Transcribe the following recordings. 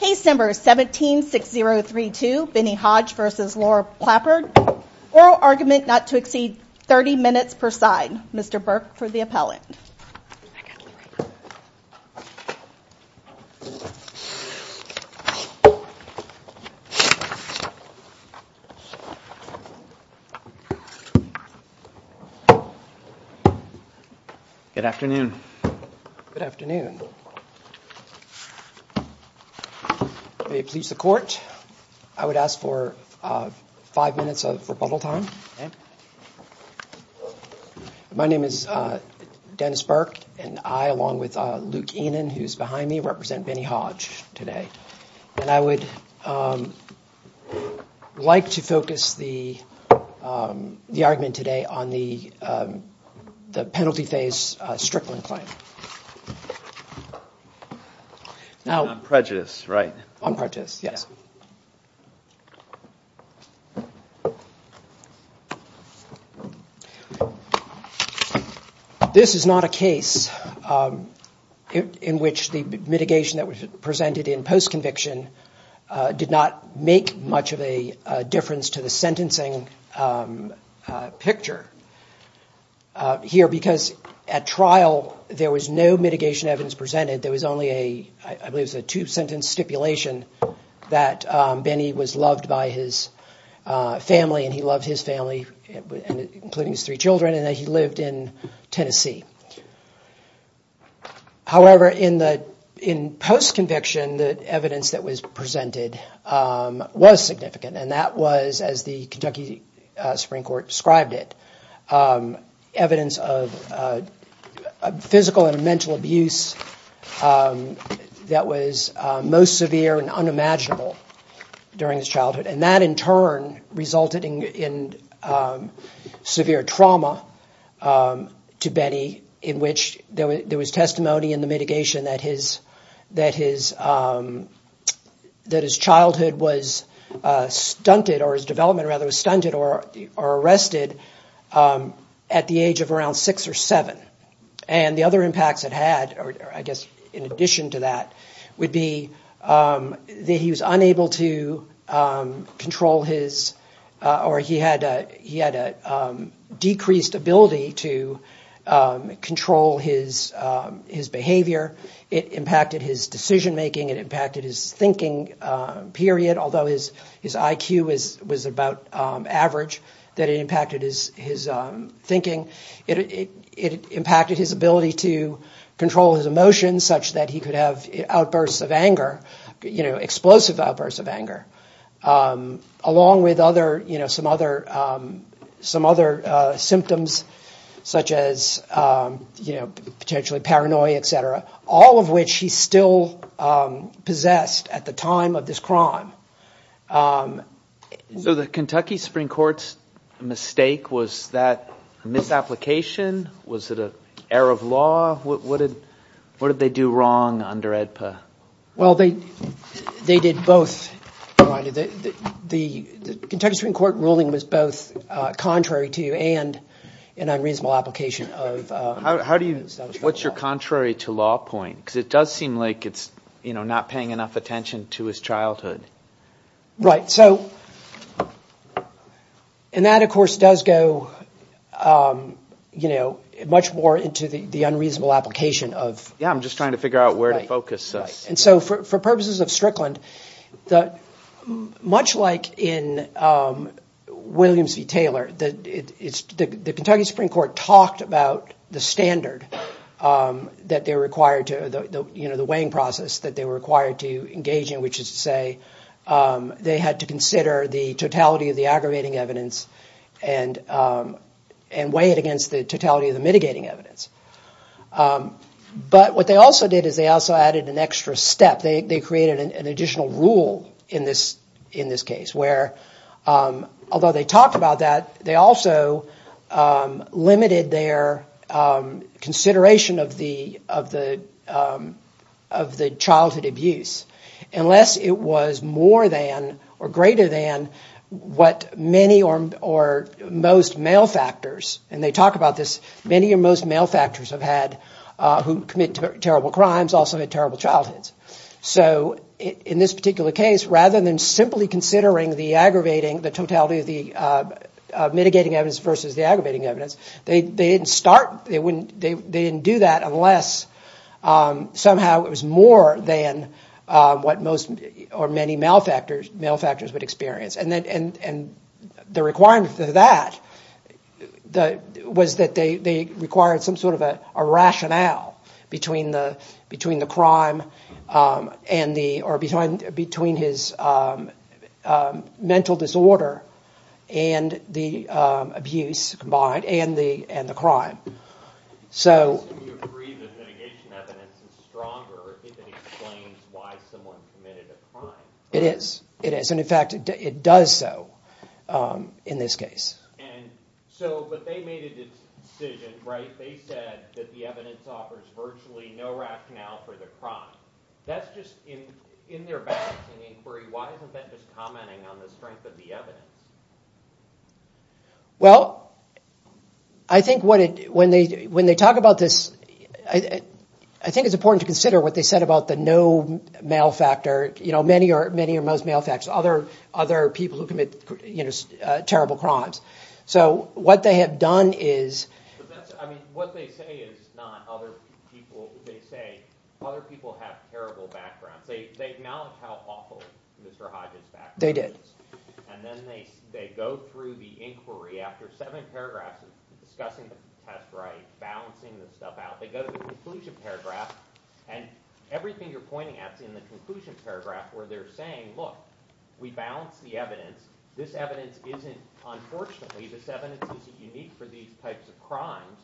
Case No. 17-6032, Benny Hodge v. Laura Plappert Oral argument not to exceed 30 minutes per side Mr. Burke for the appellant Good afternoon Good afternoon May it please the court I would ask for five minutes of rebuttal time My name is Dennis Burke and I along with Luke Enon who's behind me represent Benny Hodge today, and I would Like to focus the the argument today on the the penalty phase Strickland claim Now prejudice right on purchase. Yes This is not a case In which the mitigation that was presented in post conviction did not make much of a difference to the sentencing Picture Here because at trial there was no mitigation evidence presented there was only a I believe it's a two-sentence stipulation that Benny was loved by his Family, and he loved his family Including his three children and that he lived in Tennessee However in the in post conviction that evidence that was presented Was significant and that was as the Kentucky Supreme Court described it evidence of Physical and mental abuse That was most severe and unimaginable during his childhood and that in turn resulted in Severe trauma To Benny in which there was testimony in the mitigation that his that his That his childhood was Stunted or his development rather was stunted or are arrested at the age of around six or seven and the other impacts that had or I guess in addition to that would be that he was unable to control his or he had he had a decreased ability to Control his his behavior it impacted his decision-making it impacted his thinking Period although his his IQ is was about average that it impacted his his Thinking it it impacted his ability to Control his emotions such that he could have outbursts of anger, you know explosive outbursts of anger along with other, you know some other some other symptoms such as You know potentially paranoia, etc. All of which he still Possessed at the time of this crime So the Kentucky Supreme Court's Mistake was that Misapplication was it a error of law? What did what did they do wrong under AEDPA? Well, they they did both the Kentucky Supreme Court ruling was both Contrary to and an unreasonable application of how do you what's your contrary to law point? Because it does seem like it's you know, not paying enough attention to his childhood right, so And that of course does go You know much more into the the unreasonable application of yeah I'm just trying to figure out where to focus and so for purposes of Strickland that much like in Williams v. Taylor that it's the Kentucky Supreme Court talked about the standard That they're required to the you know, the weighing process that they were required to engage in which is to say they had to consider the totality of the aggravating evidence and And weigh it against the totality of the mitigating evidence But what they also did is they also added an extra step they created an additional rule in this in this case where Although they talked about that. They also Limited their Consideration of the of the of the childhood abuse unless it was more than or greater than What many or or most male factors and they talk about this many or most male factors have had? Who commit terrible crimes also had terrible childhoods? so in this particular case rather than simply considering the aggravating the totality of the Mitigating evidence versus the aggravating evidence. They didn't start they wouldn't they didn't do that unless somehow it was more than What most or many male factors male factors would experience and then and and the requirements of that? The was that they required some sort of a rationale between the between the crime and the or behind between his Mental disorder and the abuse combined and the and the crime so It is it is and in fact it does so in this case On the strength of the evidence Well, I Think what it when they when they talk about this I I think it's important to consider what they said about the no male factor You know many or many or most male facts other other people who commit, you know, terrible crimes So what they have done is They did And everything you're pointing at in the conclusion paragraph where they're saying look we balance the evidence this evidence isn't unfortunately, this evidence is unique for these types of crimes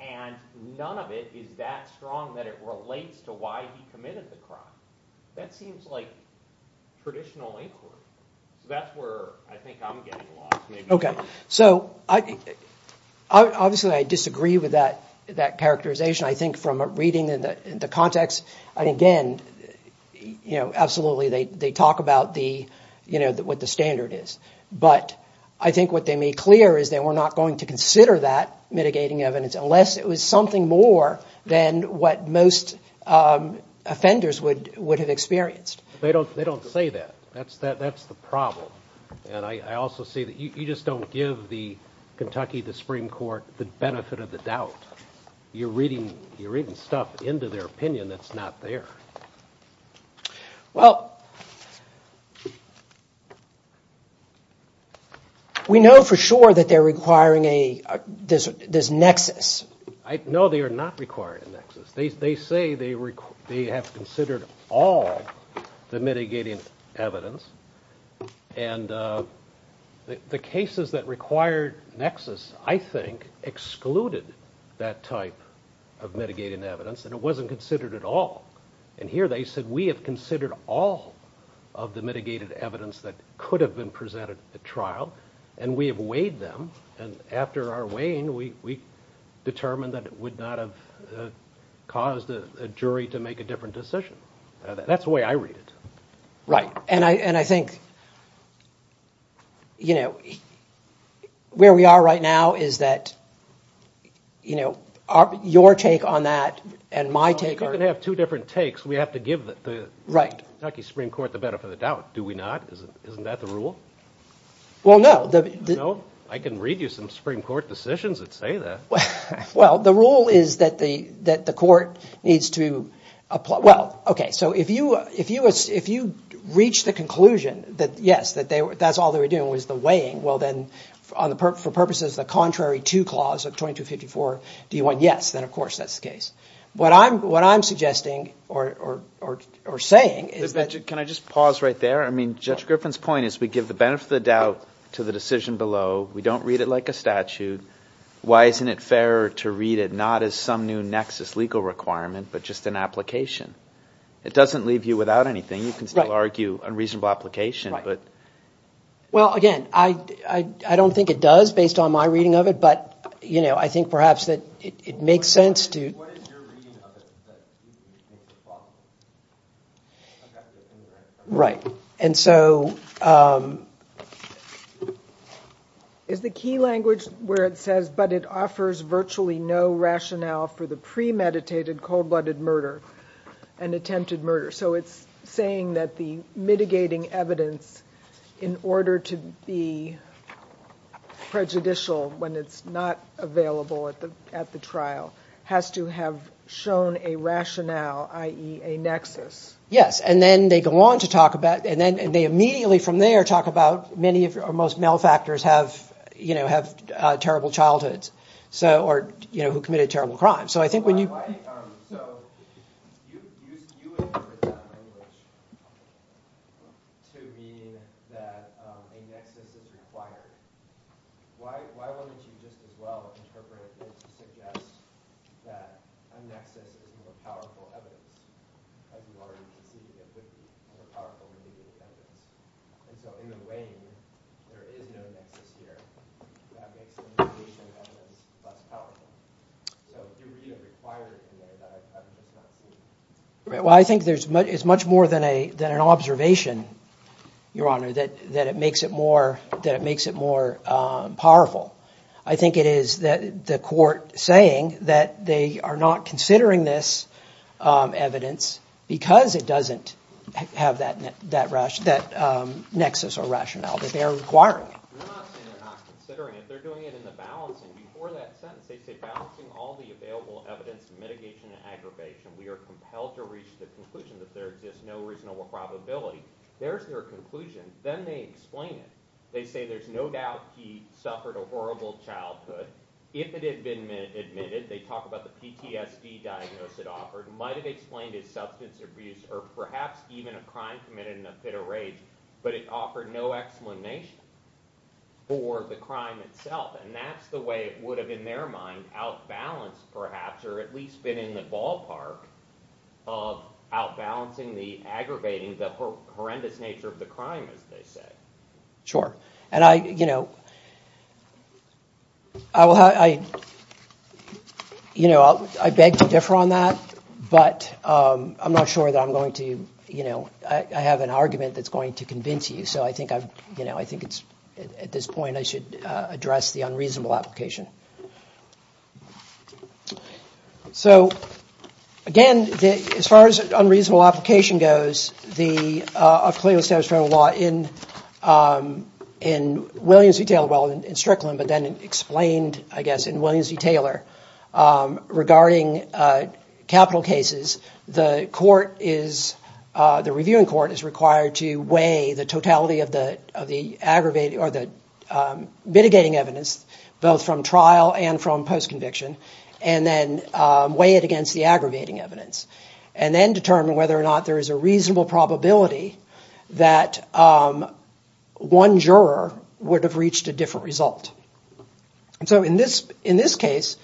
and None of it is that strong that it relates to why he committed the crime. That seems like a traditional inquiry. That's where I think I'm getting lost. Okay, so I Obviously, I disagree with that that characterization. I think from a reading in the context and again you know, absolutely they they talk about the you know that what the standard is but I think what they made clear is they were Not going to consider that mitigating evidence unless it was something more than what most Offenders would would have experienced they don't they don't say that that's that that's the problem And I also see that you just don't give the Kentucky the Supreme Court the benefit of the doubt You're reading you're reading stuff into their opinion. That's not there Well We know for sure that they're requiring a This this nexus, I know they are not required in nexus. They say they were they have considered all the mitigating evidence and The cases that required Nexus, I think excluded that type of Mitigating evidence and it wasn't considered at all and here they said we have considered all of the mitigated evidence that could have been presented at trial and we have weighed them and after our weighing we determined that it would not have Caused a jury to make a different decision. That's the way I read it. Right and I and I think You know where we are right now is that You know our your take on that and my take are gonna have two different takes Right Well, no, no, I can read you some Supreme Court decisions that say that well The rule is that the that the court needs to apply Well, okay So if you if you if you reach the conclusion that yes that they were that's all they were doing was the weighing Well, then on the purpose for purposes the contrary to clause of 2254. Do you want? Yes, then, of course, that's the case what I'm what I'm suggesting or Saying is that can I just pause right there? I mean judge Griffin's point is we give the benefit of the doubt to the decision below. We don't read it like a statute Why isn't it fair to read it not as some new Nexus legal requirement, but just an application It doesn't leave you without anything. You can still argue a reasonable application, but Well again, I I don't think it does based on my reading of it But you know, I think perhaps that it makes sense to Right and so Is the key language where it says but it offers virtually no rationale for the premeditated cold-blooded murder and Attempted murder. So it's saying that the mitigating evidence in order to be Prejudicial when it's not available at the at the trial has to have shown a rationale IE a nexus yes, and then they go on to talk about and then they immediately from there talk about many of your most male factors have You know have terrible childhoods. So or you know who committed terrible crime. So I think when you Require Well, I think there's much it's much more than a than an observation Your honor that that it makes it more that it makes it more Powerful. I think it is that the court saying that they are not considering this Evidence because it doesn't have that net that rush that Nexus or rationale that they are requiring There's their conclusion then they explain it they say there's no doubt he suffered a horrible childhood If it had been admitted they talk about the PTSD Diagnosis it offered might have explained his substance abuse or perhaps even a crime committed in a fit of rage, but it offered no explanation For the crime itself and that's the way it would have in their mind out balanced perhaps or at least been in the ballpark of Out balancing the aggravating the horrendous nature of the crime as they say sure and I you know, I Will how I You know, I beg to differ on that but I'm not sure that I'm going to you know, I have an argument that's going to convince you So I think I've you know, I think it's at this point. I should address the unreasonable application So Again the as far as unreasonable application goes the of Cleo steps for a lot in In Williams detail well in Strickland, but then explained I guess in Williams v. Taylor regarding capital cases the court is the reviewing court is required to weigh the totality of the of the aggravated or the Mitigating evidence both from trial and from post-conviction and then weigh it against the aggravating evidence and then determine whether or not there is a reasonable probability that One juror would have reached a different result and so in this in this case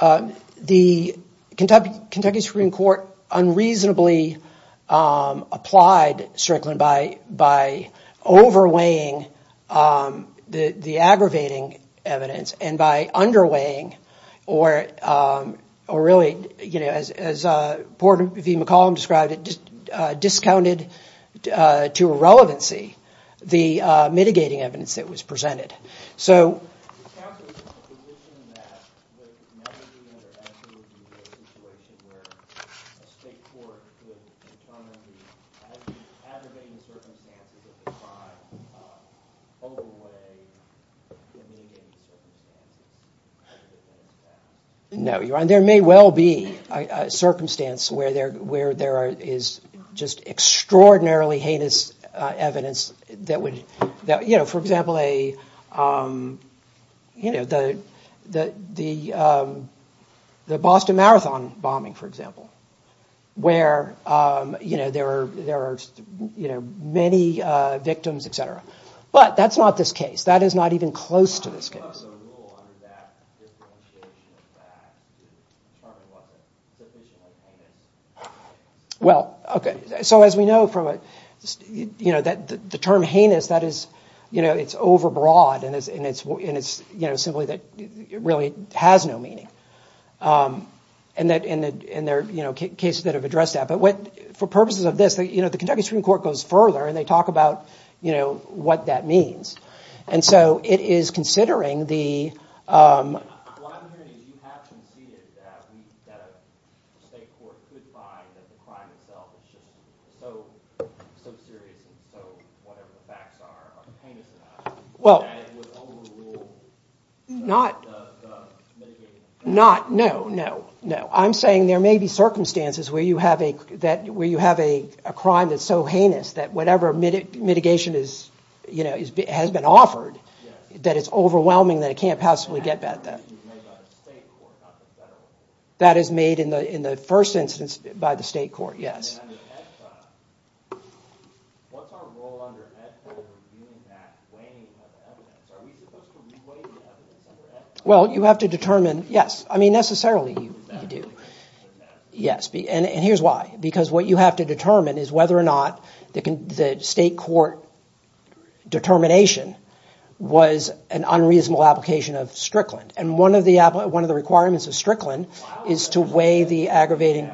the Kentucky Kentucky Supreme Court unreasonably applied Strickland by by overweighing The the aggravating evidence and by underweighing or Or really, you know as as a Porter v. McCollum described it just discounted to irrelevancy the mitigating evidence that was presented so No, you're on there may well be a Circumstance where they're where there is just extraordinarily heinous evidence that would that you know, for example, a You know the the the The Boston Marathon bombing for example where You know, there are there are you know many victims, etc But that's not this case that is not even close to this case Well, okay, so as we know from it, you know that the term heinous that is, you know It's overbroad and it's and it's and it's you know, simply that it really has no meaning And that in the in there, you know cases that have addressed that but what for purposes of this You know, the Kentucky Supreme Court goes further and they talk about you know, what that means and so it is considering the Well Not Not no, no, no I'm saying there may be circumstances where you have a that where you have a crime That's so heinous that whatever minute mitigation is, you know, it has been offered that it's overwhelming that it can't possibly get that That is made in the in the first instance by the state court, yes Well, you have to determine yes, I mean necessarily you do Yes, be and here's why because what you have to determine is whether or not they can the state court Determination was an unreasonable application of Strickland and one of the Apple one of the requirements of Strickland is to weigh the aggravating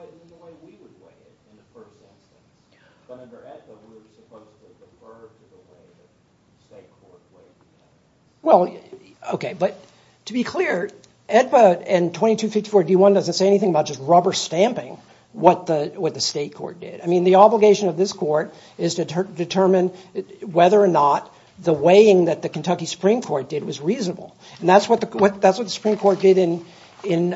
The way we would weigh it in the first instance, but under AEDPA we were supposed to defer to the way the state court weighed it. Well, okay, but to be clear AEDPA and 2254-D1 doesn't say anything about just rubber stamping What the what the state court did? I mean the obligation of this court is to determine Whether or not the weighing that the Kentucky Supreme Court did was reasonable and that's what the what that's what the Supreme Court did in in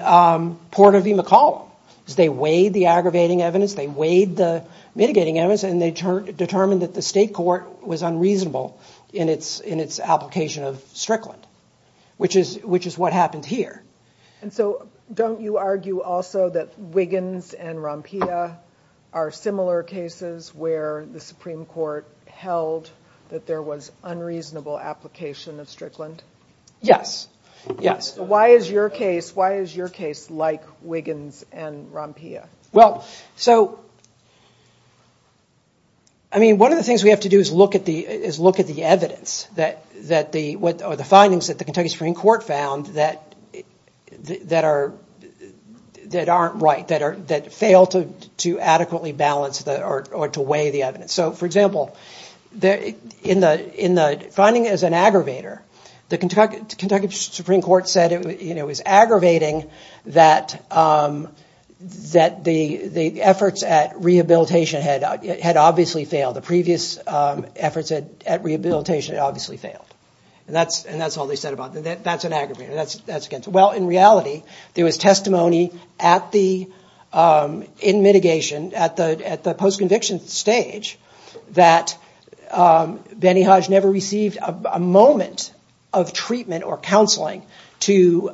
Porter v. McCollum as they weighed the aggravating evidence They weighed the mitigating evidence and they determined that the state court was unreasonable in its in its application of Strickland Which is which is what happened here And so don't you argue also that Wiggins and Rompia are similar cases where the Supreme Court? Held that there was unreasonable application of Strickland. Yes. Yes. Why is your case? Why is your case like Wiggins and Rompia? Well, so I Mean one of the things we have to do is look at the is look at the evidence that that the what are the findings? that the Kentucky Supreme Court found that that are That aren't right that are that fail to to adequately balance that or to weigh the evidence So for example there in the in the finding as an aggravator The Kentucky Supreme Court said it was aggravating that That the the efforts at rehabilitation had had obviously failed the previous Efforts at rehabilitation obviously failed and that's and that's all they said about that. That's an aggravator. That's that's against well in reality, there was testimony at the in mitigation at the at the post-conviction stage that Benny Hodge never received a moment of treatment or counseling to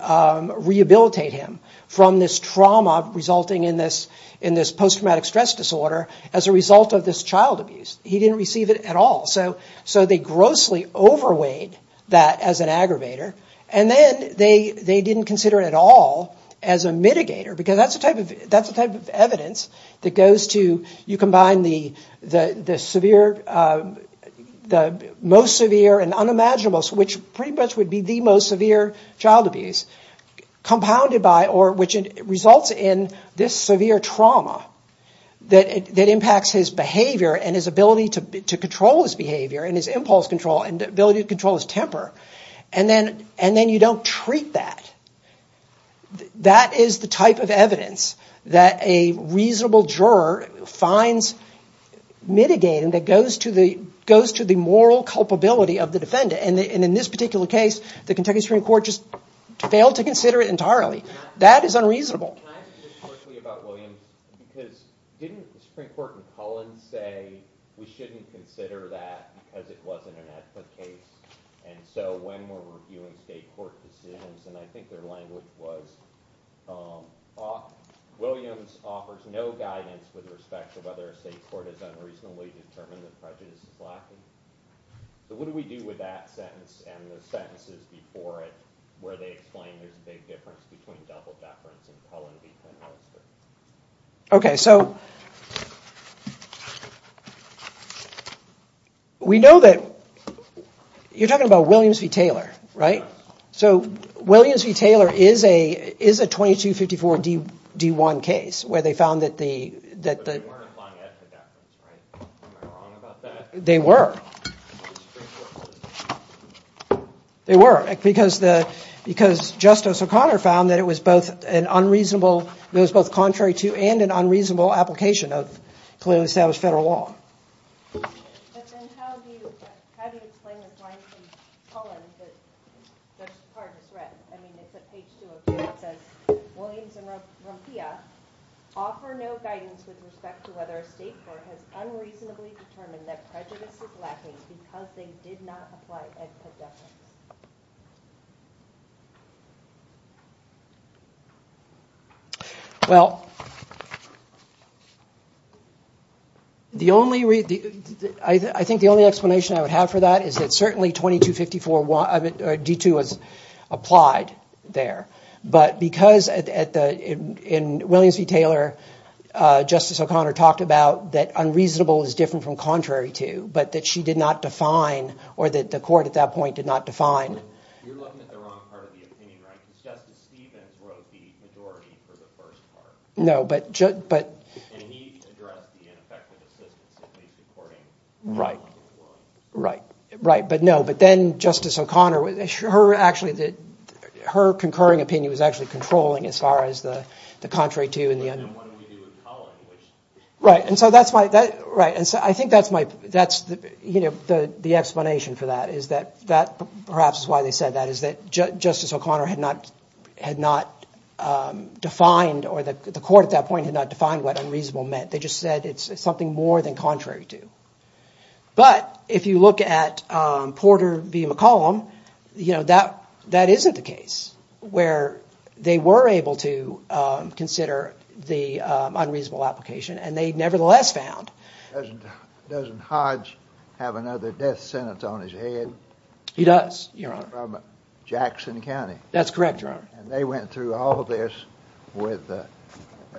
Rehabilitate him from this trauma resulting in this in this post-traumatic stress disorder as a result of this child abuse He didn't receive it at all so so they grossly overweighed that as an aggravator and then they they didn't consider it at all as a Mitigator because that's the type of that's the type of evidence that goes to you combine the the the severe The most severe and unimaginable which pretty much would be the most severe child abuse Compounded by or which it results in this severe trauma that it impacts his behavior and his ability to Control his behavior and his impulse control and ability to control his temper and then and then you don't treat that That is the type of evidence that a reasonable juror finds Mitigating that goes to the goes to the moral culpability of the defendant and in this particular case the Kentucky Supreme Court just Failed to consider it entirely. That is unreasonable About William because didn't the Supreme Court in Cullen say we shouldn't consider that because it wasn't an Ethnic case and so when we're reviewing state court decisions, and I think their language was Williams offers no guidance with respect to whether a state court is unreasonably determined that prejudice is lacking So what do we do with that sentence and the sentences before it where they explain? Okay, so We know that You're talking about Williams v. Taylor, right? so Williams v. Taylor is a is a 2254 d d1 case where they found that the They were They were because the because justice O'Connor found that it was both an unreasonable It was both contrary to and an unreasonable application of clearly established federal law Did not apply Well The only read the I think the only explanation I would have for that is that certainly 2254 one of it d2 was Applied there, but because at the in Williams v. Taylor Justice O'Connor talked about that unreasonable is different from contrary to but that she did not define or that the court at that point did not define No, but Right right, right, but no, but then justice O'Connor with a sure actually that her concurring opinion was actually controlling as far as the Contrary to in the end Right, and so that's why that right and so I think that's my that's the you know The the explanation for that is that that perhaps is why they said that is that justice O'Connor had not had not Defined or that the court at that point had not defined what unreasonable meant. They just said it's something more than contrary to but if you look at Porter v. McCollum, you know that that isn't the case where they were able to Consider the unreasonable application and they nevertheless found Doesn't Hodge have another death sentence on his head. He does Jackson County, that's correct. You're on and they went through all this with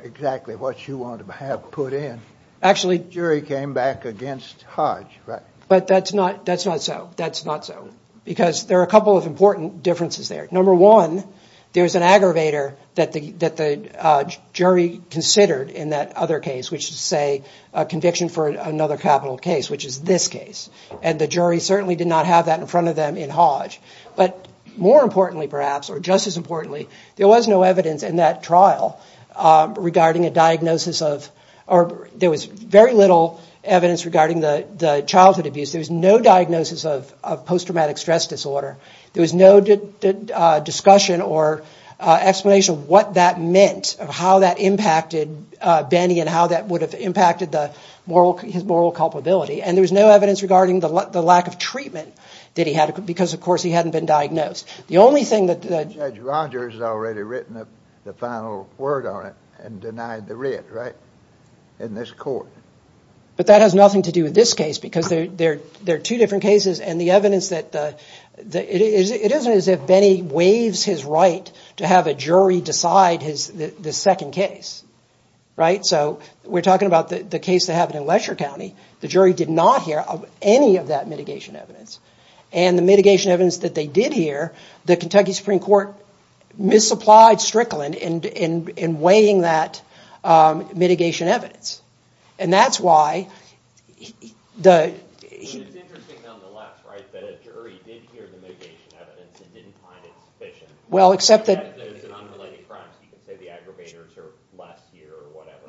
Exactly what you want to have put in actually jury came back against Hodge, right? But that's not that's not so that's not so because there are a couple of important differences there number one there's an aggravator that the that the jury considered in that other case which to say a Conviction for another capital case which is this case and the jury certainly did not have that in front of them in Hodge But more importantly perhaps or just as importantly there was no evidence in that trial Regarding a diagnosis of or there was very little evidence regarding the the childhood abuse There was no diagnosis of post-traumatic stress disorder. There was no discussion or Explanation of what that meant of how that impacted Benny and how that would have impacted the moral his moral culpability and there was no evidence regarding the lack of treatment Did he had it because of course he hadn't been diagnosed the only thing that the judge Rogers has already written up the final word On it and denied the writ right in this court but that has nothing to do with this case because they're they're they're two different cases and the evidence that The it isn't as if Benny waives his right to have a jury decide his the second case Right. So we're talking about the the case that happened in Lesher County The jury did not hear of any of that mitigation evidence and the mitigation evidence that they did hear the Kentucky Supreme Court misapplied Strickland and in in weighing that mitigation evidence and that's why the Evidence Well, except that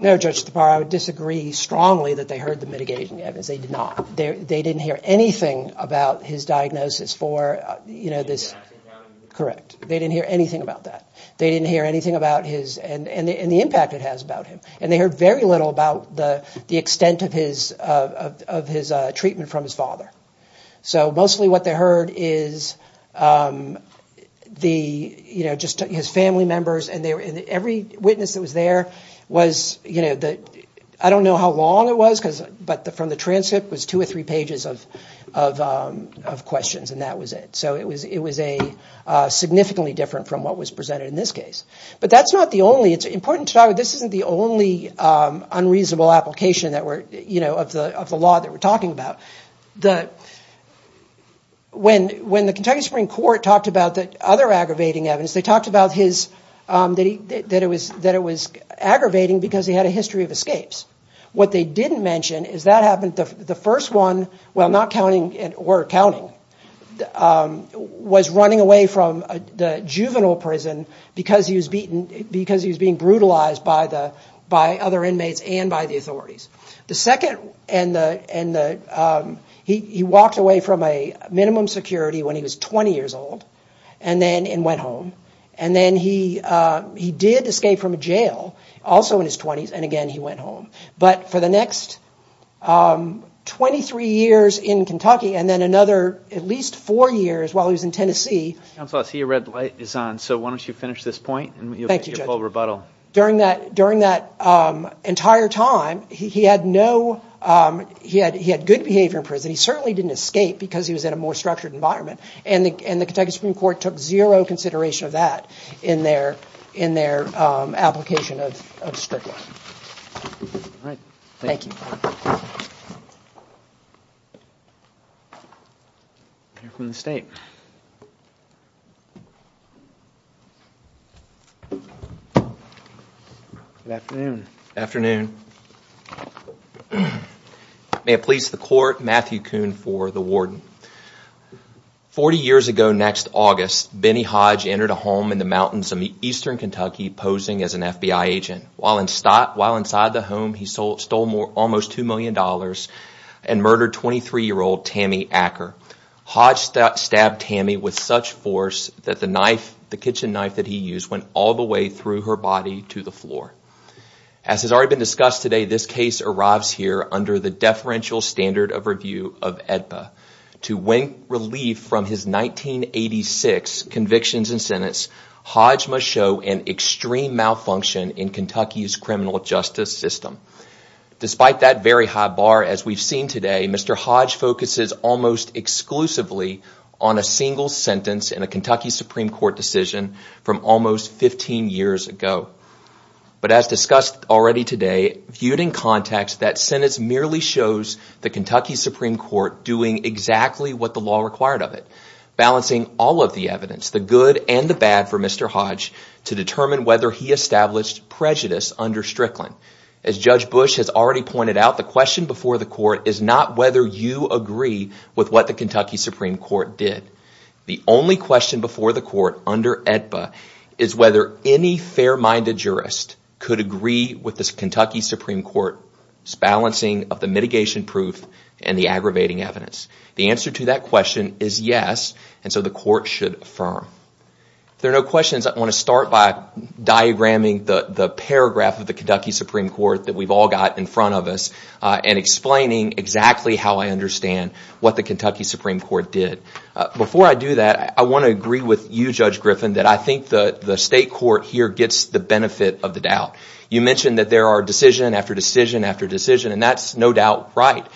No judge the power I would disagree strongly that they heard the mitigation evidence they did not there they didn't hear anything about his diagnosis for you know this Correct. They didn't hear anything about that They didn't hear anything about his and and the impact it has about him and they heard very little about the the extent of his of his treatment from his father So mostly what they heard is The you know just his family members and they were in every witness that was there was you know that I don't know how long it was because but the from the transcript was two or three pages of Questions and that was it so it was it was a Significantly different from what was presented in this case, but that's not the only it's important to talk. This isn't the only Unreasonable application that were you know of the of the law that we're talking about the When when the Kentucky Supreme Court talked about that other aggravating evidence they talked about his That he that it was that it was aggravating because he had a history of escapes What they didn't mention is that happened the first one while not counting and were counting Was running away from the juvenile prison because he was beaten because he was being brutalized by the by other inmates and by the authorities the second and the and the he walked away from a minimum security when he was 20 years old and then and went home and then he He did escape from a jail also in his 20s. And again, he went home, but for the next 23 years in Kentucky and then another at least four years while he was in, Tennessee I'm so I see a red light is on so why don't you finish this point? Thank you general rebuttal during that during that Entire time he had no He had he had good behavior in prison He certainly didn't escape because he was in a more structured environment and the Kentucky Supreme Court took zero consideration of that in their in their application of Thank you From the state Afternoon Afternoon May it please the court Matthew Coon for the warden 40 years ago next August Benny Hodge entered a home in the mountains of the eastern Kentucky posing as an FBI agent while in stock while inside the home He sold stole more almost two million dollars and murdered 23 year old Tammy Acker Hodge that stabbed Tammy with such force that the knife the kitchen knife that he used went all the way through her body to the floor as Has already been discussed today. This case arrives here under the deferential standard of review of AEDPA to win relief from his 1986 convictions and sentence Hodge must show an extreme malfunction in Kentucky's criminal justice system Despite that very high bar as we've seen today. Mr. Hodge focuses almost Exclusively on a single sentence in a Kentucky Supreme Court decision from almost 15 years ago But as discussed already today viewed in context that sentence merely shows the Kentucky Supreme Court doing Exactly what the law required of it Balancing all of the evidence the good and the bad for mr To determine whether he established Prejudice under Strickland as Judge Bush has already pointed out the question before the court is not whether you agree With what the Kentucky Supreme Court did the only question before the court under AEDPA is whether any Fair-minded jurist could agree with this Kentucky Supreme Court Balancing of the mitigation proof and the aggravating evidence. The answer to that question is yes, and so the court should affirm There are no questions I want to start by Diagramming the the paragraph of the Kentucky Supreme Court that we've all got in front of us and explaining exactly how I understand What the Kentucky Supreme Court did before I do that I want to agree with you judge Griffin that I think the the state court here gets the benefit of the doubt You mentioned that there are decision after decision after decision and that's no doubt, right?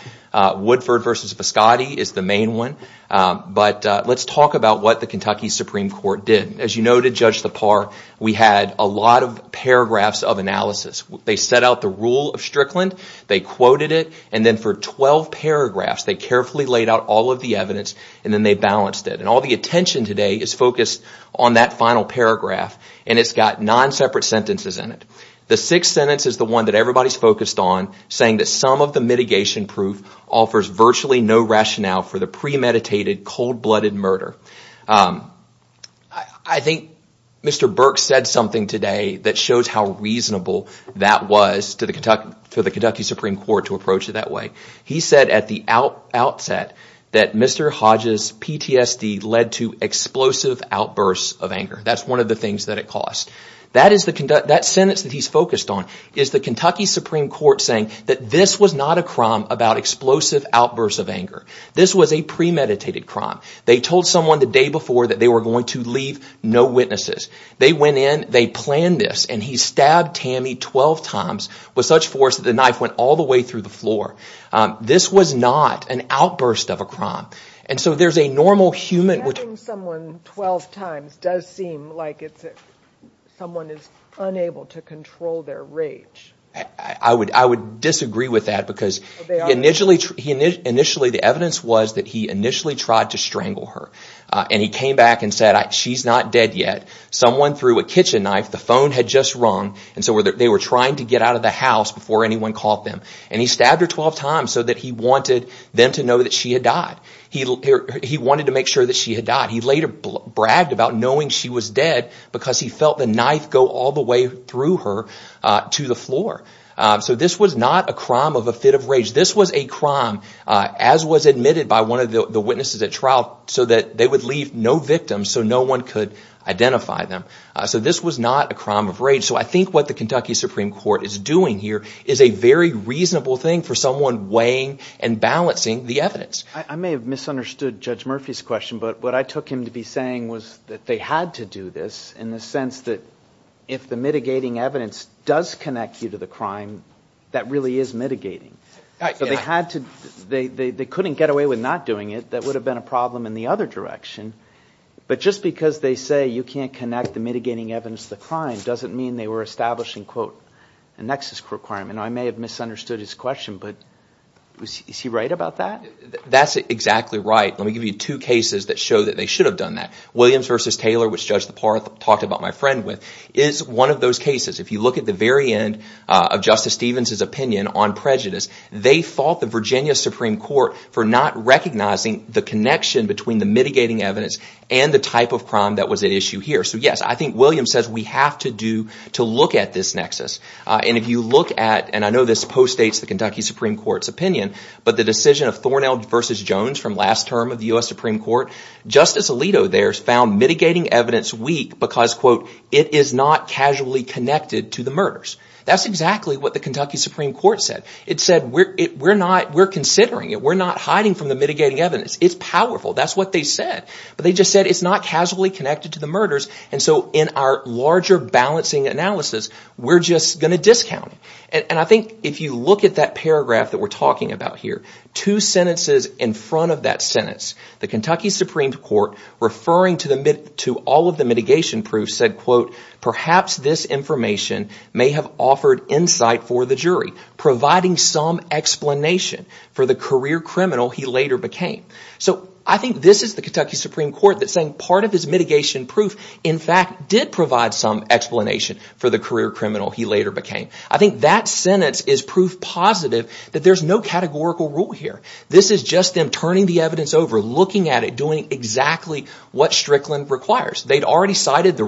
Woodford versus Viscotti is the main one But let's talk about what the Kentucky Supreme Court did as you know to judge the par We had a lot of paragraphs of analysis. They set out the rule of Strickland They quoted it and then for 12 paragraphs They carefully laid out all of the evidence and then they balanced it and all the attention today is focused on that final paragraph And it's got nine separate sentences in it The sixth sentence is the one that everybody's focused on saying that some of the mitigation proof offers virtually no rationale for the premeditation cold-blooded murder I Think mr. Burke said something today that shows how reasonable that was to the Kentucky for the Kentucky Supreme Court to approach it that way He said at the out outset that mr. Hodges PTSD led to explosive outbursts of anger That's one of the things that it cost That is the conduct that sentence that he's focused on is the Kentucky Supreme Court saying that this was not a crime about Explosive outbursts of anger. This was a premeditated crime They told someone the day before that they were going to leave no witnesses They went in they planned this and he stabbed Tammy 12 times with such force that the knife went all the way through the floor This was not an outburst of a crime. And so there's a normal human Someone is unable to control their rage I would I would disagree with that because Initially he initially the evidence was that he initially tried to strangle her and he came back and said she's not dead yet Someone through a kitchen knife the phone had just rung and so were there they were trying to get out of the house before anyone Called them and he stabbed her 12 times so that he wanted them to know that she had died He he wanted to make sure that she had died He later bragged about knowing she was dead because he felt the knife go all the way through her To the floor. So this was not a crime of a fit of rage This was a crime as was admitted by one of the witnesses at trial so that they would leave no victim So no one could identify them. So this was not a crime of rage so I think what the Kentucky Supreme Court is doing here is a very reasonable thing for someone weighing and Balancing the evidence I may have misunderstood Judge Murphy's question but what I took him to be saying was that they had to do this in the sense that if Mitigating evidence does connect you to the crime that really is mitigating So they had to they they couldn't get away with not doing it. That would have been a problem in the other direction But just because they say you can't connect the mitigating evidence the crime doesn't mean they were establishing quote a nexus requirement I may have misunderstood his question, but He right about that. That's exactly right Let me give you two cases that show that they should have done that Williams versus Taylor which judge the part talked about my friend with is one of those cases if you look at the very end of Justice Stevens's opinion on prejudice They fought the Virginia Supreme Court for not Recognizing the connection between the mitigating evidence and the type of crime that was at issue here So yes I think Williams says we have to do to look at this nexus and if you look at and I know this post states the Kentucky Supreme Court's opinion, but the decision of Thornell versus Jones from last term of the US Supreme Court Justice Alito there's found mitigating evidence weak because quote it is not casually connected to the murders That's exactly what the Kentucky Supreme Court said it said we're not we're considering it. We're not hiding from the mitigating evidence. It's powerful That's what they said, but they just said it's not casually connected to the murders And so in our larger balancing analysis We're just going to discount it and I think if you look at that paragraph that we're talking about here Two sentences in front of that sentence the Kentucky Supreme Court Referring to the mid to all of the mitigation proof said quote perhaps this information may have offered insight for the jury providing some Explanation for the career criminal he later became so I think this is the Kentucky Supreme Court that saying part of his mitigation proof in Fact did provide some explanation for the career criminal he later became I think that sentence is proof positive That there's no categorical rule here This is just them turning the evidence over looking at it doing exactly what Strickland requires. They'd already cited the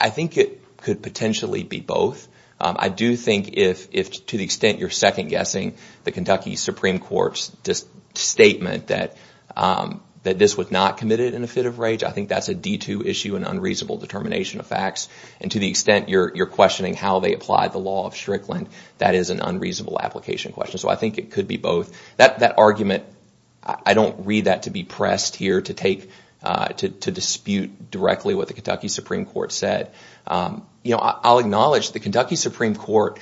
I Think it could potentially be both I do think if if to the extent you're second-guessing the Kentucky Supreme Court's just statement that This was not committed in a fit of rage I think that's a d2 issue an unreasonable determination of facts and to the extent you're questioning How they apply the law of Strickland that is an unreasonable application question So I think it could be both that that argument I don't read that to be pressed here to take to dispute directly what the Kentucky Supreme Court said You know, I'll acknowledge the Kentucky Supreme Court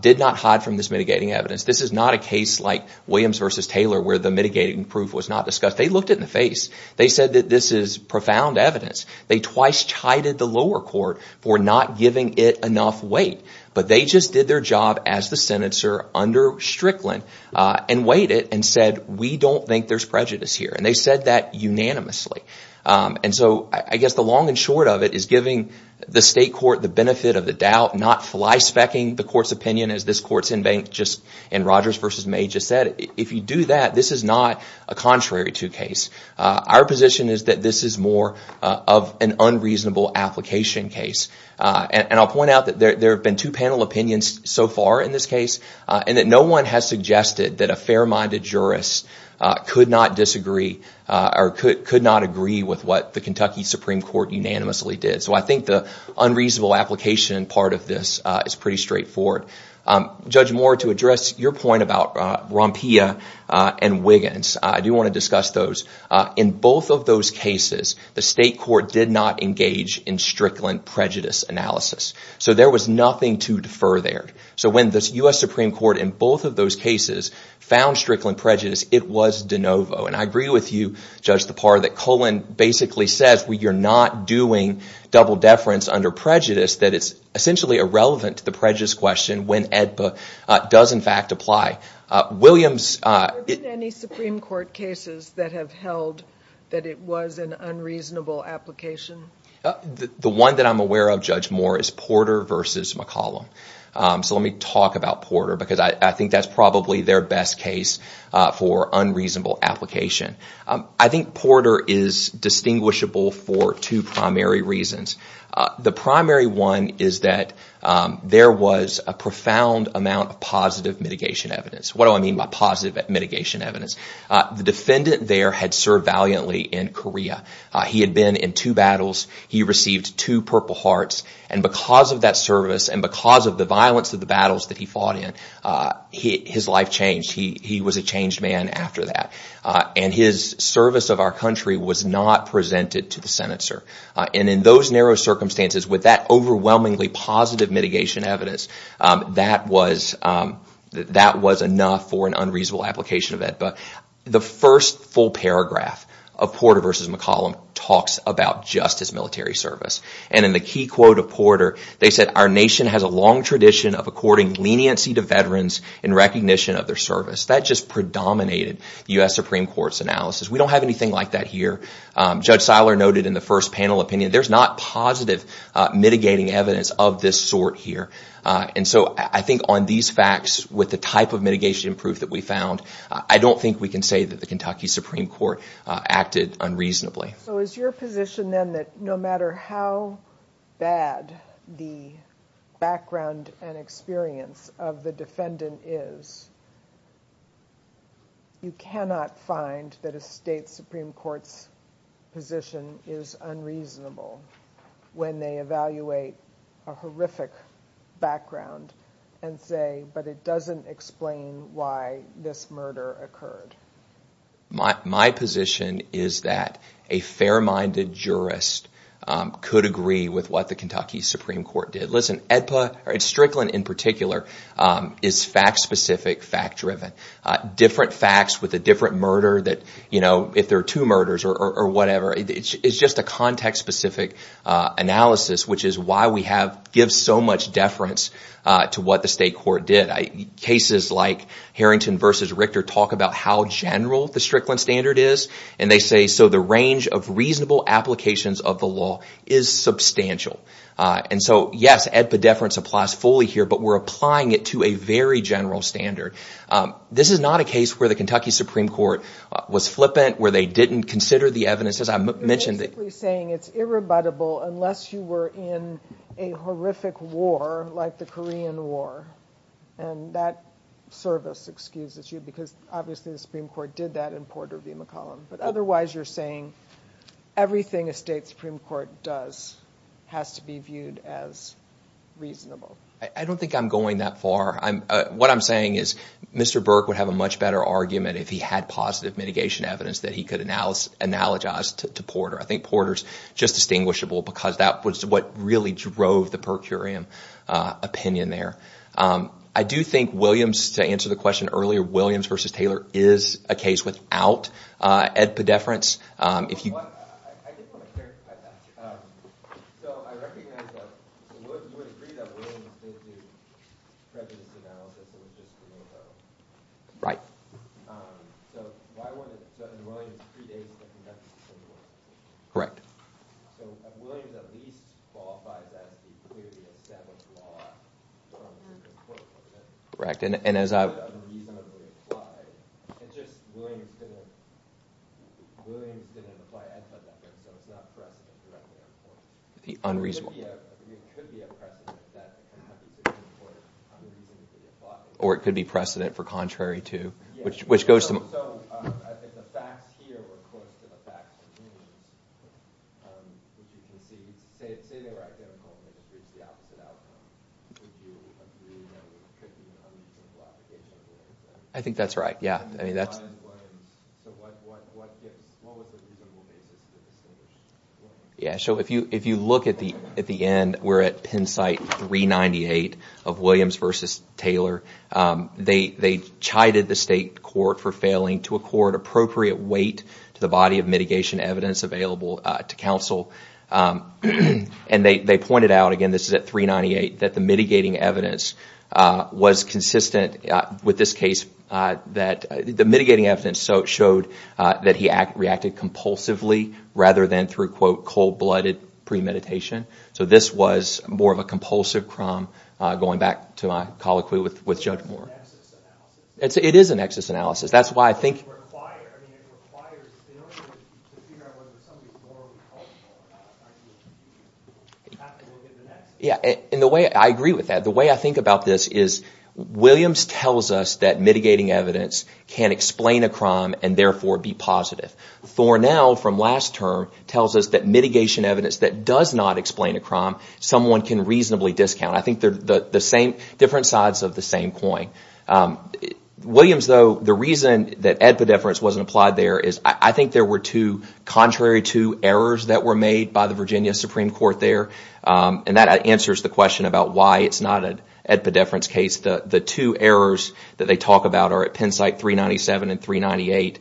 did not hide from this mitigating evidence This is not a case like Williams versus Taylor where the mitigating proof was not discussed. They looked at in the face They said that this is profound evidence They twice chided the lower court for not giving it enough weight But they just did their job as the senator under Strickland and weighed it and said we don't think there's prejudice here And they said that unanimously And so I guess the long and short of it is giving the state court the benefit of the doubt not Fli-specking the court's opinion as this courts in bank just and Rogers versus major said if you do that This is not a contrary to case. Our position is that this is more of an unreasonable application case And I'll point out that there have been two panel opinions so far in this case And that no one has suggested that a fair-minded jurist Could not disagree or could not agree with what the Kentucky Supreme Court unanimously did So I think the unreasonable application part of this is pretty straightforward Judge Moore to address your point about Rompia and Wiggins I do want to discuss those in both of those cases the state court did not engage in Strickland prejudice analysis So there was nothing to defer there So when this US Supreme Court in both of those cases found Strickland prejudice It was de novo and I agree with you judge the part of that colon basically says we you're not doing Double deference under prejudice that it's essentially irrelevant to the prejudice question when EDPA does in fact apply Williams Any Supreme Court cases that have held that it was an unreasonable application? The one that I'm aware of judge Moore is Porter versus McCollum So let me talk about Porter because I think that's probably their best case for unreasonable application I think Porter is Distinguishable for two primary reasons the primary one is that There was a profound amount of positive mitigation evidence What do I mean by positive mitigation evidence the defendant there had served valiantly in Korea? He had been in two battles He received two Purple Hearts and because of that service and because of the violence of the battles that he fought in He his life changed He was a changed man after that and his service of our country was not presented to the senator and in those narrow Circumstances with that overwhelmingly positive mitigation evidence that was That was enough for an unreasonable application of it But the first full paragraph of Porter versus McCollum talks about justice military service and in the key quote of Porter They said our nation has a long tradition of according leniency to veterans in recognition of their service that just Predominated u.s.. Supreme Court's analysis. We don't have anything like that here judge Seiler noted in the first panel opinion. There's not positive Mitigating evidence of this sort here, and so I think on these facts with the type of mitigation proof that we found I don't think we can say that the Kentucky Supreme Court acted unreasonably So is your position then that no matter how? Bad the background and experience of the defendant is You cannot find that a state Supreme Court's Position is unreasonable when they evaluate a horrific Background and say but it doesn't explain why this murder occurred My position is that a fair-minded jurist Could agree with what the Kentucky Supreme Court did listen edpa or its Strickland in particular is fact specific fact-driven Different facts with a different murder that you know if there are two murders or whatever. It's just a context specific Analysis, which is why we have give so much deference to what the state court did I cases like? Harrington versus Richter talk about how general the Strickland standard is and they say so the range of reasonable applications of the law is Substantial and so yes edpa deference applies fully here, but we're applying it to a very general standard This is not a case where the Kentucky Supreme Court was flippant where they didn't consider the evidences I mentioned that we're saying it's irrebuttable unless you were in a horrific war like the Korean War and That service excuses you because obviously the Supreme Court did that in Porter v. McCollum, but otherwise you're saying Everything a state Supreme Court does has to be viewed as Reasonable I don't think I'm going that far. I'm what I'm saying is mr. Burke would have a much better argument if he had positive mitigation evidence that he could analysis analogized to Porter I think Porter's just distinguishable because that was what really drove the per curiam Opinion there. I do think Williams to answer the question earlier Williams versus Taylor is a case without Edpa deference if you Correct Correct and as I I Unreasonably Or it could be precedent for contrary to which which goes to I think that's right. Yeah, I mean that's What was the Yeah, so if you if you look at the at the end we're at Penn site 398 of Williams versus Taylor They they chided the state court for failing to accord appropriate weight to the body of mitigation evidence available to counsel And they pointed out again. This is at 398 that the mitigating evidence Was consistent with this case that the mitigating evidence so it showed that he acted reacted Compulsively rather than through quote cold-blooded premeditation So this was more of a compulsive crumb going back to my colloquy with with judge Moore It's it is a nexus analysis. That's why I think Quiet Yeah, and the way I agree with that the way I think about this is Williams tells us that mitigating evidence can explain a crime and therefore be positive Thornell from last term tells us that mitigation evidence that does not explain a crime someone can reasonably discount I think they're the same different sides of the same coin Williams though the reason that at the difference wasn't applied there is I think there were two Contrary to errors that were made by the Virginia Supreme Court there And that answers the question about why it's not an at the difference case the the two errors that they talk about are at Penn site 397 and 398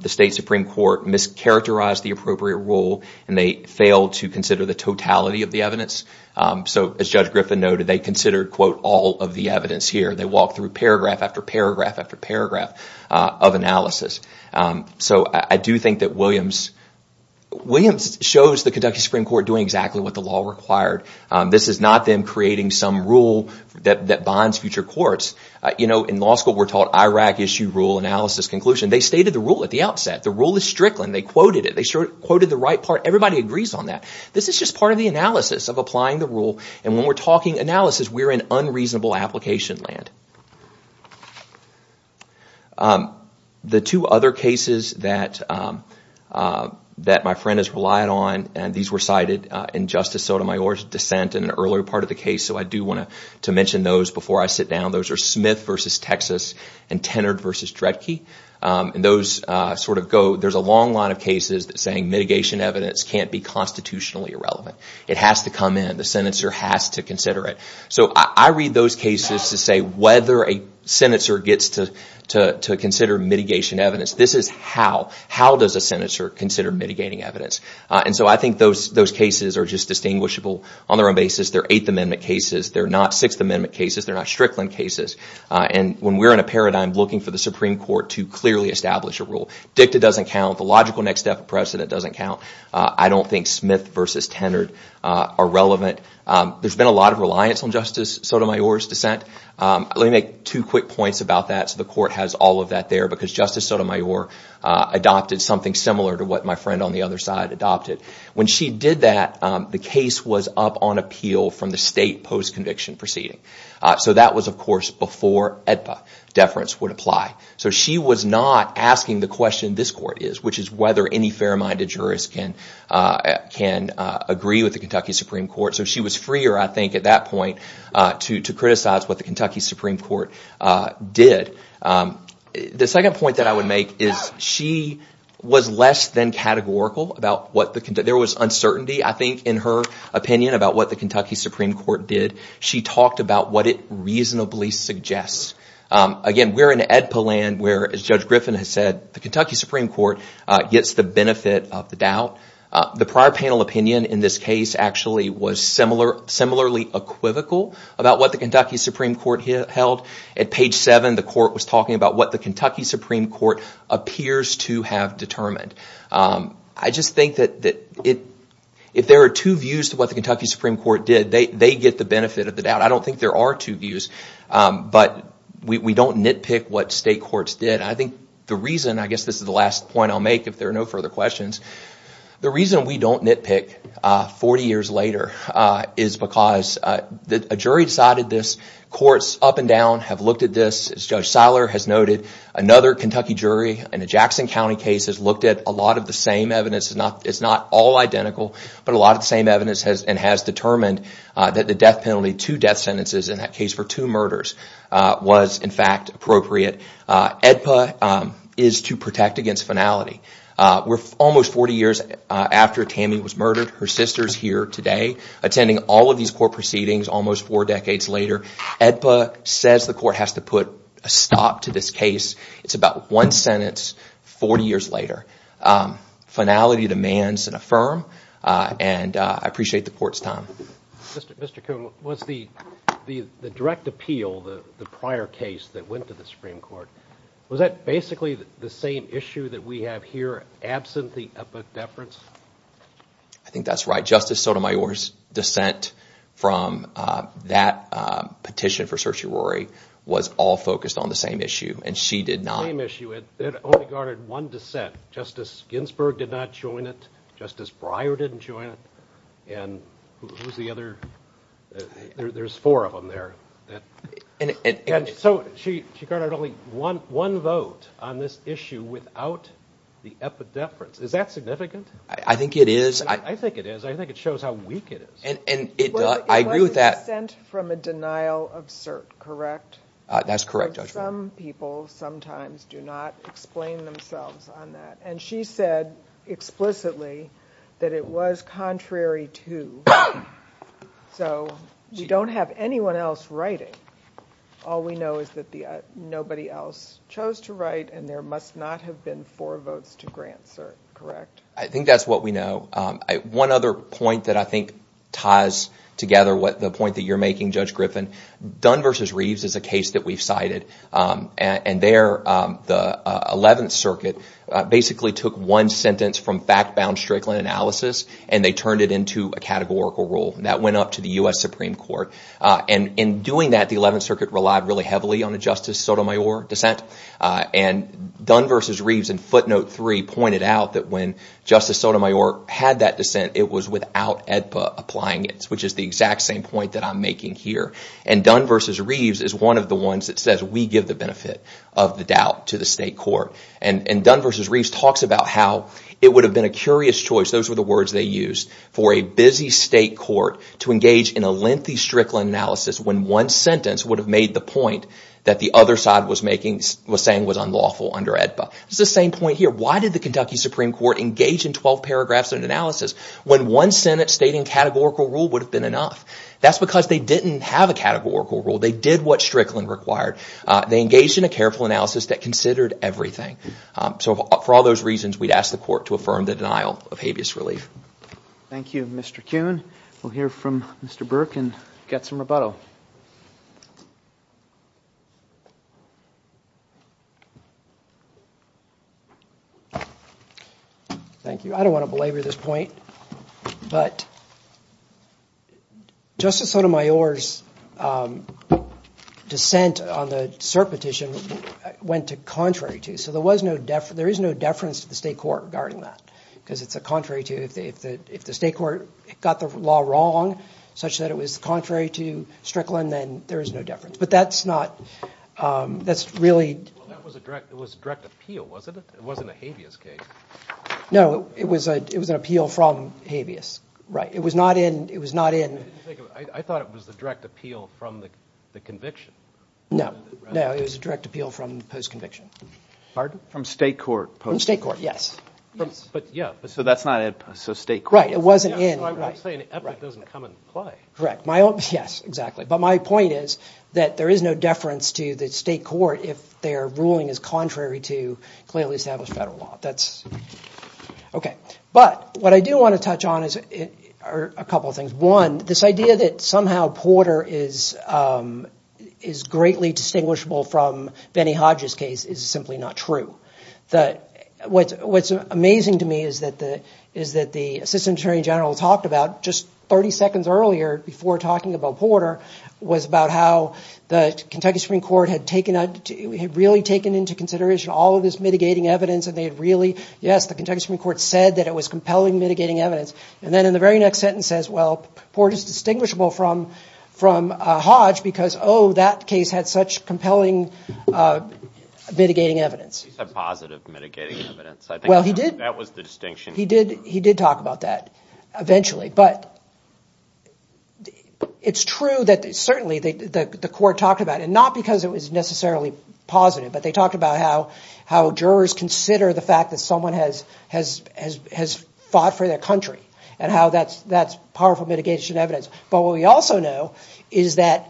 The state Supreme Court mischaracterized the appropriate rule and they failed to consider the totality of the evidence So as judge Griffin noted they considered quote all of the evidence here They walk through paragraph after paragraph after paragraph of analysis. So I do think that Williams Williams shows the Kentucky Supreme Court doing exactly what the law required This is not them creating some rule that that bonds future courts, you know in law school We're taught Iraq issue rule analysis conclusion. They stated the rule at the outset. The rule is Strickland. They quoted it Quoted the right part everybody agrees on that This is just part of the analysis of applying the rule and when we're talking analysis, we're in unreasonable application land The two other cases that That my friend has relied on and these were cited in Justice Sotomayor's dissent in an earlier part of the case So I do want to mention those before I sit down. Those are Smith versus, Texas and tenored versus Dredke And those sort of go there's a long line of cases that saying mitigation evidence can't be constitutionally irrelevant It has to come in the senator has to consider it So I read those cases to say whether a senator gets to to consider mitigation evidence This is how how does a senator consider mitigating evidence? And so I think those those cases are just distinguishable on their own basis their Eighth Amendment cases. They're not Sixth Amendment cases They're not Strickland cases And when we're in a paradigm looking for the Supreme Court to clearly establish a rule Dicta doesn't count the logical next step precedent doesn't count. I don't think Smith versus tenored are relevant There's been a lot of reliance on Justice Sotomayor's dissent Let me make two quick points about that. So the court has all of that there because Justice Sotomayor Adopted something similar to what my friend on the other side adopted when she did that The case was up on appeal from the state post-conviction proceeding So that was of course before at the deference would apply So she was not asking the question this court is which is whether any fair-minded jurist can Can agree with the Kentucky Supreme Court, so she was freer. I think at that point to to criticize what the Kentucky Supreme Court did The second point that I would make is she was less than categorical about what the conduct there was uncertainty I think in her opinion about what the Kentucky Supreme Court did she talked about what it reasonably suggests Again, we're in Edpa land where as Judge Griffin has said the Kentucky Supreme Court gets the benefit of the doubt The prior panel opinion in this case actually was similar similarly Equivocal about what the Kentucky Supreme Court here held at page 7 the court was talking about what the Kentucky Supreme Court Appears to have determined. I just think that that it If there are two views to what the Kentucky Supreme Court did they they get the benefit of the doubt I don't think there are two views But we don't nitpick what state courts did I think the reason I guess this is the last point I'll make if there are no further questions The reason we don't nitpick 40 years later is because the jury decided this courts up and down have looked at this as judge Seiler has noted another Kentucky jury and a Jackson County case has looked at a lot of the same evidence It's not it's not all identical But a lot of the same evidence has and has determined that the death penalty two death sentences in that case for two murders Was in fact appropriate Edpa is to protect against finality We're almost 40 years after Tammy was murdered her sister's here today Attending all of these court proceedings almost four decades later Edpa says the court has to put a stop to this case It's about one sentence 40 years later Finality demands and affirm and I appreciate the court's time Was the the the direct appeal the the prior case that went to the Supreme Court? Was that basically the same issue that we have here absent the book deference? I Think that's right justice Sotomayor's dissent from that Petition for searcher Rory was all focused on the same issue and she did not Issue it only guarded one dissent justice Ginsburg did not join it justice Breyer didn't join it and Who's the other? There's four of them there So she she got it only one one vote on this issue without The epidemics is that significant? I think it is. I think it is I think it shows how weak it is and and it I agree with that sent from a denial of cert, correct That's correct judge some people sometimes do not explain themselves on that and she said explicitly that it was contrary to So you don't have anyone else writing All we know is that the nobody else chose to write and there must not have been four votes to grant sir, correct I think that's what we know One other point that I think ties together What the point that you're making judge Griffin Dunn versus Reeves is a case that we've cited and there the 11th Circuit Basically took one sentence from fact-bound Strickland analysis and they turned it into a categorical rule that went up to the US Supreme Court and in doing that the 11th Circuit relied really heavily on a justice Sotomayor dissent and Dunn versus Reeves and footnote 3 pointed out that when justice Sotomayor had that dissent It was without EDPA applying it which is the exact same point that I'm making here and Dunn versus Reeves is one of the ones That says we give the benefit of the doubt to the state court and and Dunn versus Reeves talks about how it would have been A curious choice those were the words they used for a busy state court to engage in a lengthy Strickland analysis when one sentence would have made the Point that the other side was making was saying was unlawful under EDPA. It's the same point here Why did the Kentucky Supreme Court engage in 12 paragraphs of an analysis when one Senate stating categorical rule would have been enough? That's because they didn't have a categorical rule. They did what Strickland required. They engaged in a careful analysis that considered everything So for all those reasons we'd ask the court to affirm the denial of habeas relief Thank You. Mr. Kuhn. We'll hear from mr. Burke and get some rebuttal Thank you, I don't want to belabor this point but Justice Sotomayor's Dissent on the cert petition went to contrary to so there was no deference there is no deference to the state court regarding that because it's a contrary to if They if the if the state court got the law wrong such that it was contrary to Strickland, then there is no difference But that's not That's really No, it was a it was an appeal from habeas right it was not in it was not in No, no, it was a direct appeal from post conviction pardon from state court from state court Yes, but yeah, but so that's not it. So state, right? It wasn't in Correct my own yes, exactly But my point is that there is no deference to the state court if their ruling is contrary to clearly established federal law. That's Okay, but what I do want to touch on is it are a couple of things one this idea that somehow Porter is Is greatly distinguishable from Benny Hodges case is simply not true That what's what's amazing to me is that the is that the assistant attorney general talked about just 30 seconds earlier Before talking about Porter was about how the Kentucky Supreme Court had taken out We had really taken into consideration all of this mitigating evidence and they had really yes The Kentucky Supreme Court said that it was compelling mitigating evidence and then in the very next sentence says well Port is distinguishable from from Hodge because oh that case had such compelling Mitigating evidence Well, he did that was the distinction he did he did talk about that eventually but It's true that certainly they the court talked about and not because it was necessarily positive but they talked about how how jurors consider the fact that someone has has has has Fought for their country and how that's that's powerful mitigation evidence. But what we also know is that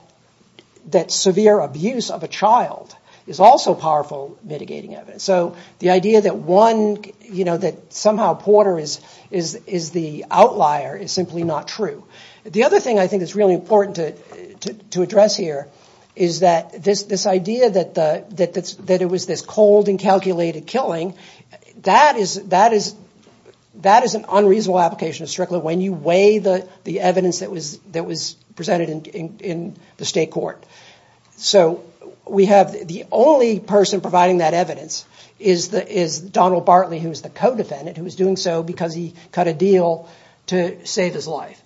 That severe abuse of a child is also powerful mitigating evidence So the idea that one, you know that somehow Porter is is is the outlier is simply not true the other thing I think is really important to To address here. Is that this this idea that the that that's that it was this cold and calculated killing that is that is That is an unreasonable application of Strickland when you weigh the the evidence that was that was presented in the state court So we have the only person providing that evidence is the is Donald Bartley Who's the co-defendant who was doing so because he cut a deal to save his life?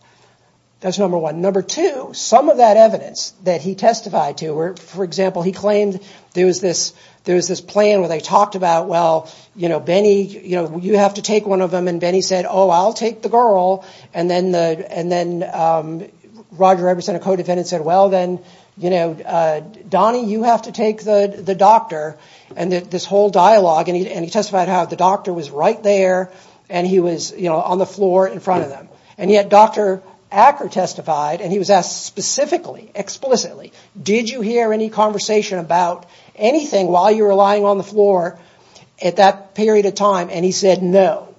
That's number one number two some of that evidence that he testified to where for example He claimed there was this there was this plan where they talked about well, you know, Benny, you know you have to take one of them and Benny said oh, I'll take the girl and then the and then Roger Everson a co-defendant said well, then, you know Donnie you have to take the the doctor and that this whole dialogue and he testified how the doctor was right there And he was you know on the floor in front of them and yet dr. Acker testified and he was asked specifically Explicitly. Did you hear any conversation about anything while you were lying on the floor at that period of time? And he said no,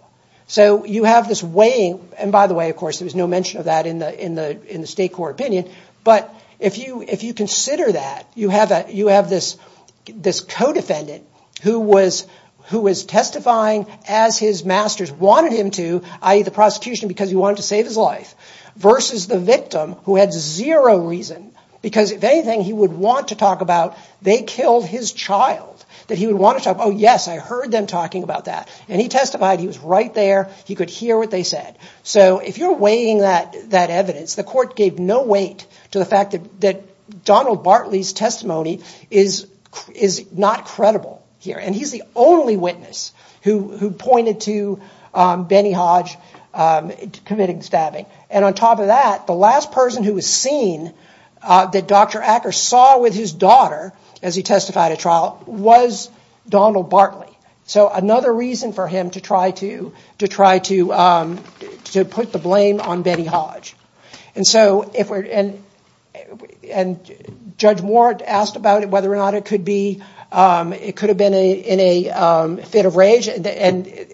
so you have this weighing and by the way, of course There was no mention of that in the in the in the state court opinion But if you if you consider that you have that you have this This co-defendant who was who was testifying as his masters wanted him to I eat the prosecution because he wanted to save his life Versus the victim who had zero reason because if anything he would want to talk about they killed his child That he would want to talk. Oh, yes. I heard them talking about that and he testified he was right there He could hear what they said so if you're weighing that that evidence the court gave no weight to the fact that that Donald Bartley's testimony is Is not credible here and he's the only witness who who pointed to? Benny Hodge Committing stabbing and on top of that the last person who was seen That dr. Acker saw with his daughter as he testified a trial was Donald Bartley so another reason for him to try to to try to to put the blame on Benny Hodge and so if we're in and Judge more asked about it whether or not it could be it could have been a in a fit of rage and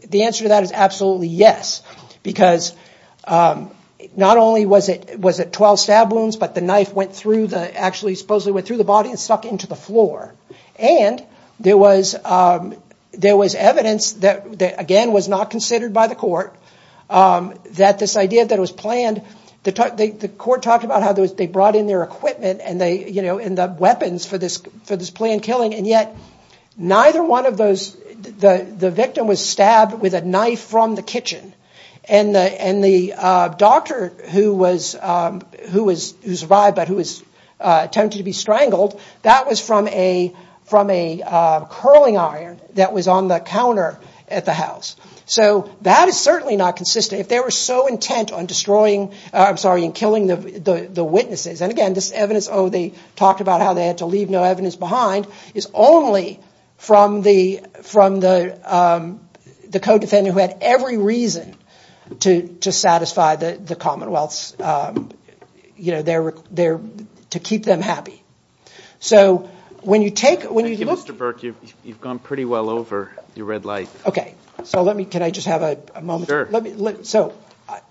the answer to that is absolutely yes, because Not only was it was it 12 stab wounds but the knife went through the actually supposedly went through the body and stuck into the floor and there was There was evidence that that again was not considered by the court that this idea that was planned the Court talked about how those they brought in their equipment and they you know in the weapons for this for this planned killing and yet neither one of those the the victim was stabbed with a knife from the kitchen and and the doctor who was who was who survived but who was Attempted to be strangled that was from a from a Curling iron that was on the counter at the house So that is certainly not consistent if they were so intent on destroying I'm sorry in killing the the witnesses and again this evidence Oh, they talked about how they had to leave no evidence behind is only from the from the The co-defendant who had every reason to to satisfy the the Commonwealth's You know, they're they're to keep them happy So when you take when you look mr. Burke, you've gone pretty well over your red light Okay, so let me can I just have a moment? Sure, let me look so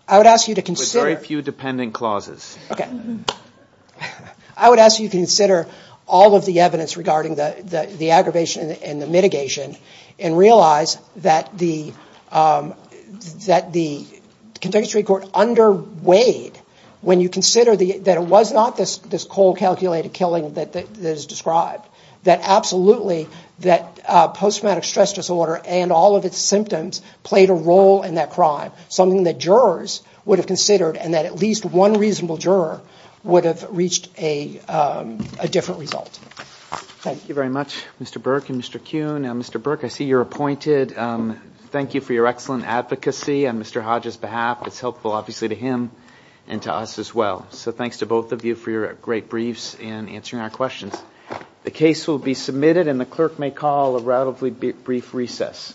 I would ask you to consider a few dependent clauses. Okay, I Would ask you consider all of the evidence regarding the the aggravation and the mitigation and realize that the that the Contextually court under weighed when you consider the that it was not this this cold calculated killing that that is described that absolutely that Post-traumatic stress disorder and all of its symptoms played a role in that crime Something that jurors would have considered and that at least one reasonable juror would have reached a different result Thank you very much. Mr. Burke and mr. Kuhn. Mr. Burke. I see you're appointed Thank you for your excellent advocacy and mr. Hodges behalf. It's helpful obviously to him and to us as well So thanks to both of you for your great briefs and answering our questions The case will be submitted and the clerk may call a relatively brief recess